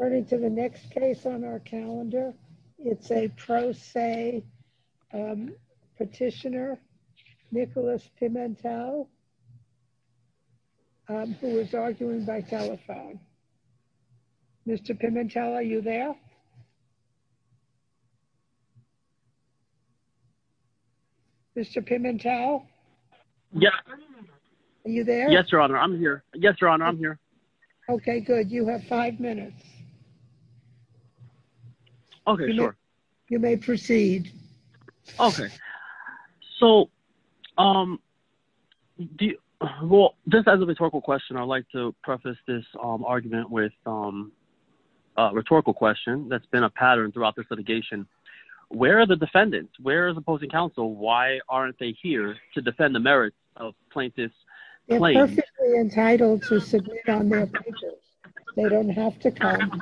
Turning to the next case on our calendar, it's a pro se petitioner, Nicholas Pimentel, who was arguing by telephone. Mr. Pimentel, are you there? Mr. Pimentel? Yes. Are you there? Yes, Your Honor, I'm here. Yes, Your Honor, I'm here. Okay, good. You have five minutes. Okay, sure. You may proceed. Okay. So, well, just as a rhetorical question, I'd like to preface this argument with a rhetorical question that's been a pattern throughout this litigation. Where are the defendants? Where are the opposing counsel? Why aren't they here to defend the merits of plaintiff's claim? They're perfectly on their pages. They don't have to come.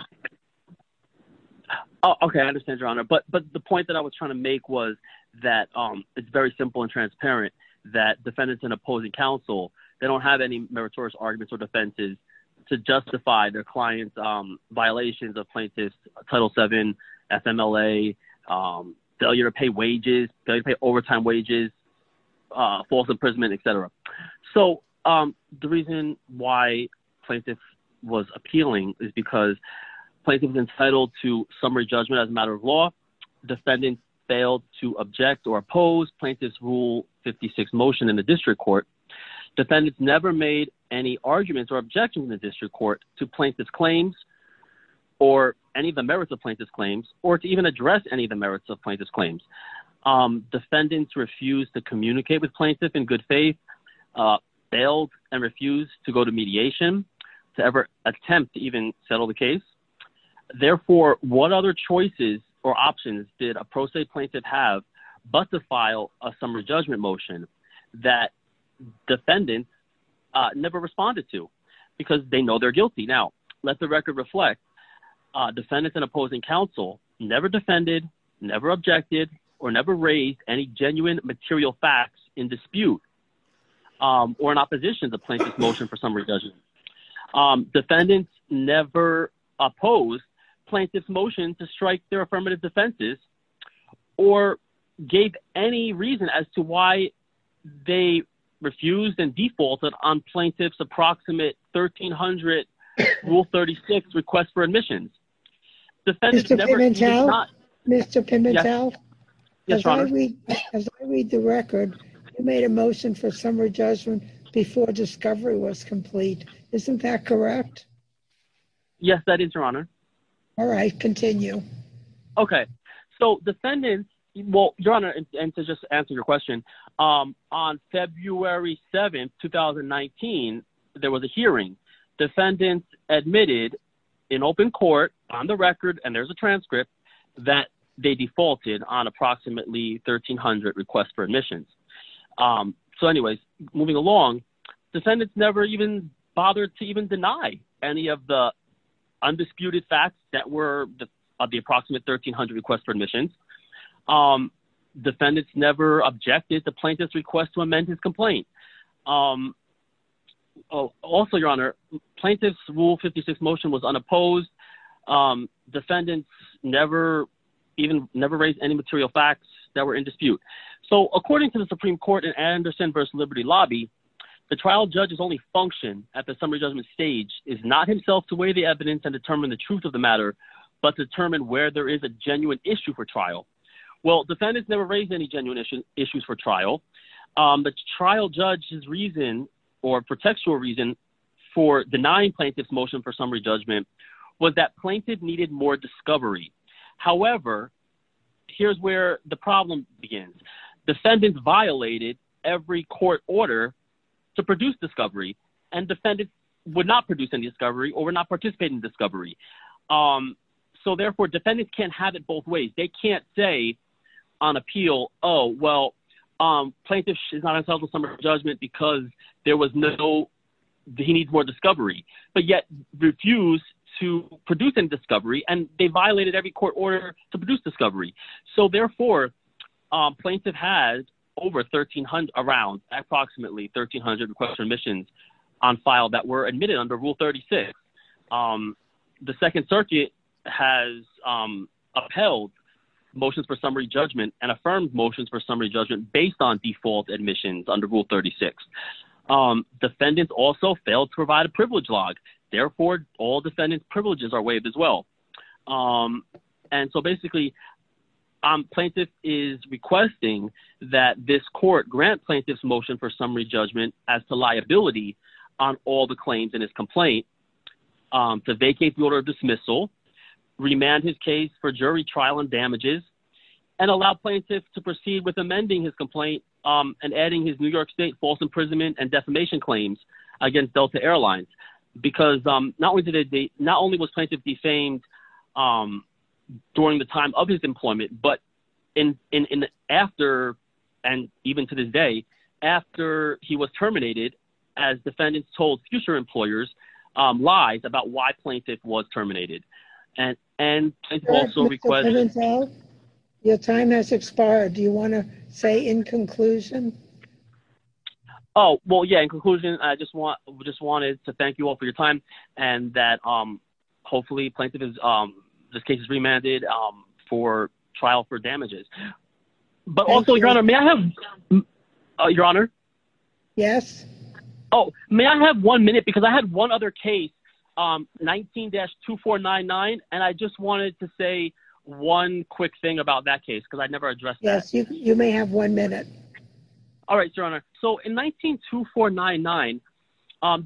Okay, I understand, Your Honor, but the point that I was trying to make was that it's very simple and transparent that defendants and opposing counsel, they don't have any meritorious arguments or defenses to justify their client's violations of plaintiff's Title VII, FMLA, failure to pay wages, failure to pay overtime wages, false imprisonment, et cetera. So, the reason why plaintiff was appealing is because plaintiff's entitled to summary judgment as a matter of law. Defendants failed to object or oppose plaintiff's Rule 56 motion in the district court. Defendants never made any arguments or objections in the district court to plaintiff's claims or any of the merits of plaintiff's claims, or to even address any of the merits of plaintiff's claims. Defendants refused to communicate with plaintiff in good faith, failed and refused to go to mediation, to ever attempt to even settle the case. Therefore, what other choices or options did a pro se plaintiff have but to file a summary judgment motion that defendants never responded to because they know they're guilty? Now, let the never objected or never raised any genuine material facts in dispute or in opposition to plaintiff's motion for summary judgment. Defendants never opposed plaintiff's motion to strike their affirmative defenses or gave any reason as to why they refused and defaulted on the case. Mr. Pimentel, as I read the record, you made a motion for summary judgment before discovery was complete. Isn't that correct? Yes, that is, Your Honor. All right, continue. Okay, so defendants, well, Your Honor, and to just answer your question, on February 7, 2019, there was a hearing. Defendants admitted in open court on the record, and there's a transcript, that they defaulted on approximately 1,300 requests for admissions. So anyways, moving along, defendants never even bothered to even deny any of the undisputed facts that were of the approximate 1,300 requests for admissions. Defendants never objected the plaintiff's request to amend his complaint. Also, Your Honor, plaintiff's Rule 56 motion was unopposed. Defendants never even raised any material facts that were in dispute. So according to the Supreme Court in Anderson v. Liberty Lobby, the trial judge's only function at the summary judgment stage is not himself to weigh the evidence and determine the truth of the matter, but to determine where there is a genuine issue for trial. Well, defendants never raised any genuine issues for trial. The trial judge's reason or contextual reason for denying plaintiff's motion for summary judgment was that plaintiff needed more discovery. However, here's where the problem begins. Defendants violated every court order to produce discovery, and defendants would not produce any discovery or would not participate in discovery. So therefore, defendants can't have it both ways. They can't say on appeal, oh, well, plaintiff is not entitled to summary judgment because there was no, he needs more discovery, but yet refused to produce any discovery, and they violated every court order to produce discovery. So therefore, plaintiff has over around approximately 1,300 requests for admissions on file that were admitted under Rule 36. The Second Circuit has upheld motions for summary judgment and affirmed motions for summary judgment based on default admissions under Rule 36. Defendants also failed to provide a privilege log. Therefore, all defendants' privileges are waived as well. And so basically, plaintiff is requesting that this court grant plaintiff's motion for summary judgment as to vacate the order of dismissal, remand his case for jury trial and damages, and allow plaintiffs to proceed with amending his complaint and adding his New York State false imprisonment and defamation claims against Delta Airlines. Because not only was plaintiff defamed during the time of his employment, but after, and even to this day, after he was terminated, as defendants told future employers, lies about why plaintiff was terminated. Your time has expired. Do you want to say in conclusion? Oh, well, yeah, in conclusion, I just wanted to thank you all for your time, and that hopefully plaintiff's case is remanded for trial for damages. But also, your honor, may I have, your honor? Yes. Oh, may I have one minute? Because I had one other case, 19-2499. And I just wanted to say one quick thing about that case, because I never addressed that. Yes, you may have one minute. All right, your honor. So in 19-2499,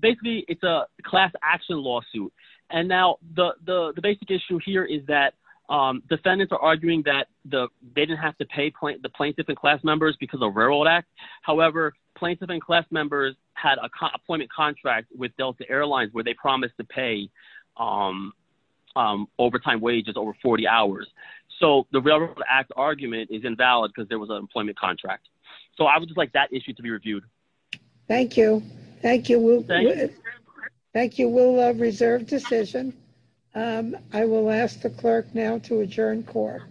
basically, it's a class action lawsuit. And now the basic issue here is that they didn't have to pay the plaintiff and class members because of Railroad Act. However, plaintiff and class members had a employment contract with Delta Airlines, where they promised to pay overtime wages over 40 hours. So the Railroad Act argument is invalid because there was an employment contract. So I would just like that issue to be reviewed. Thank you. Thank you, Will. Thank you, will reserve decision. I will ask the clerk now to adjourn court.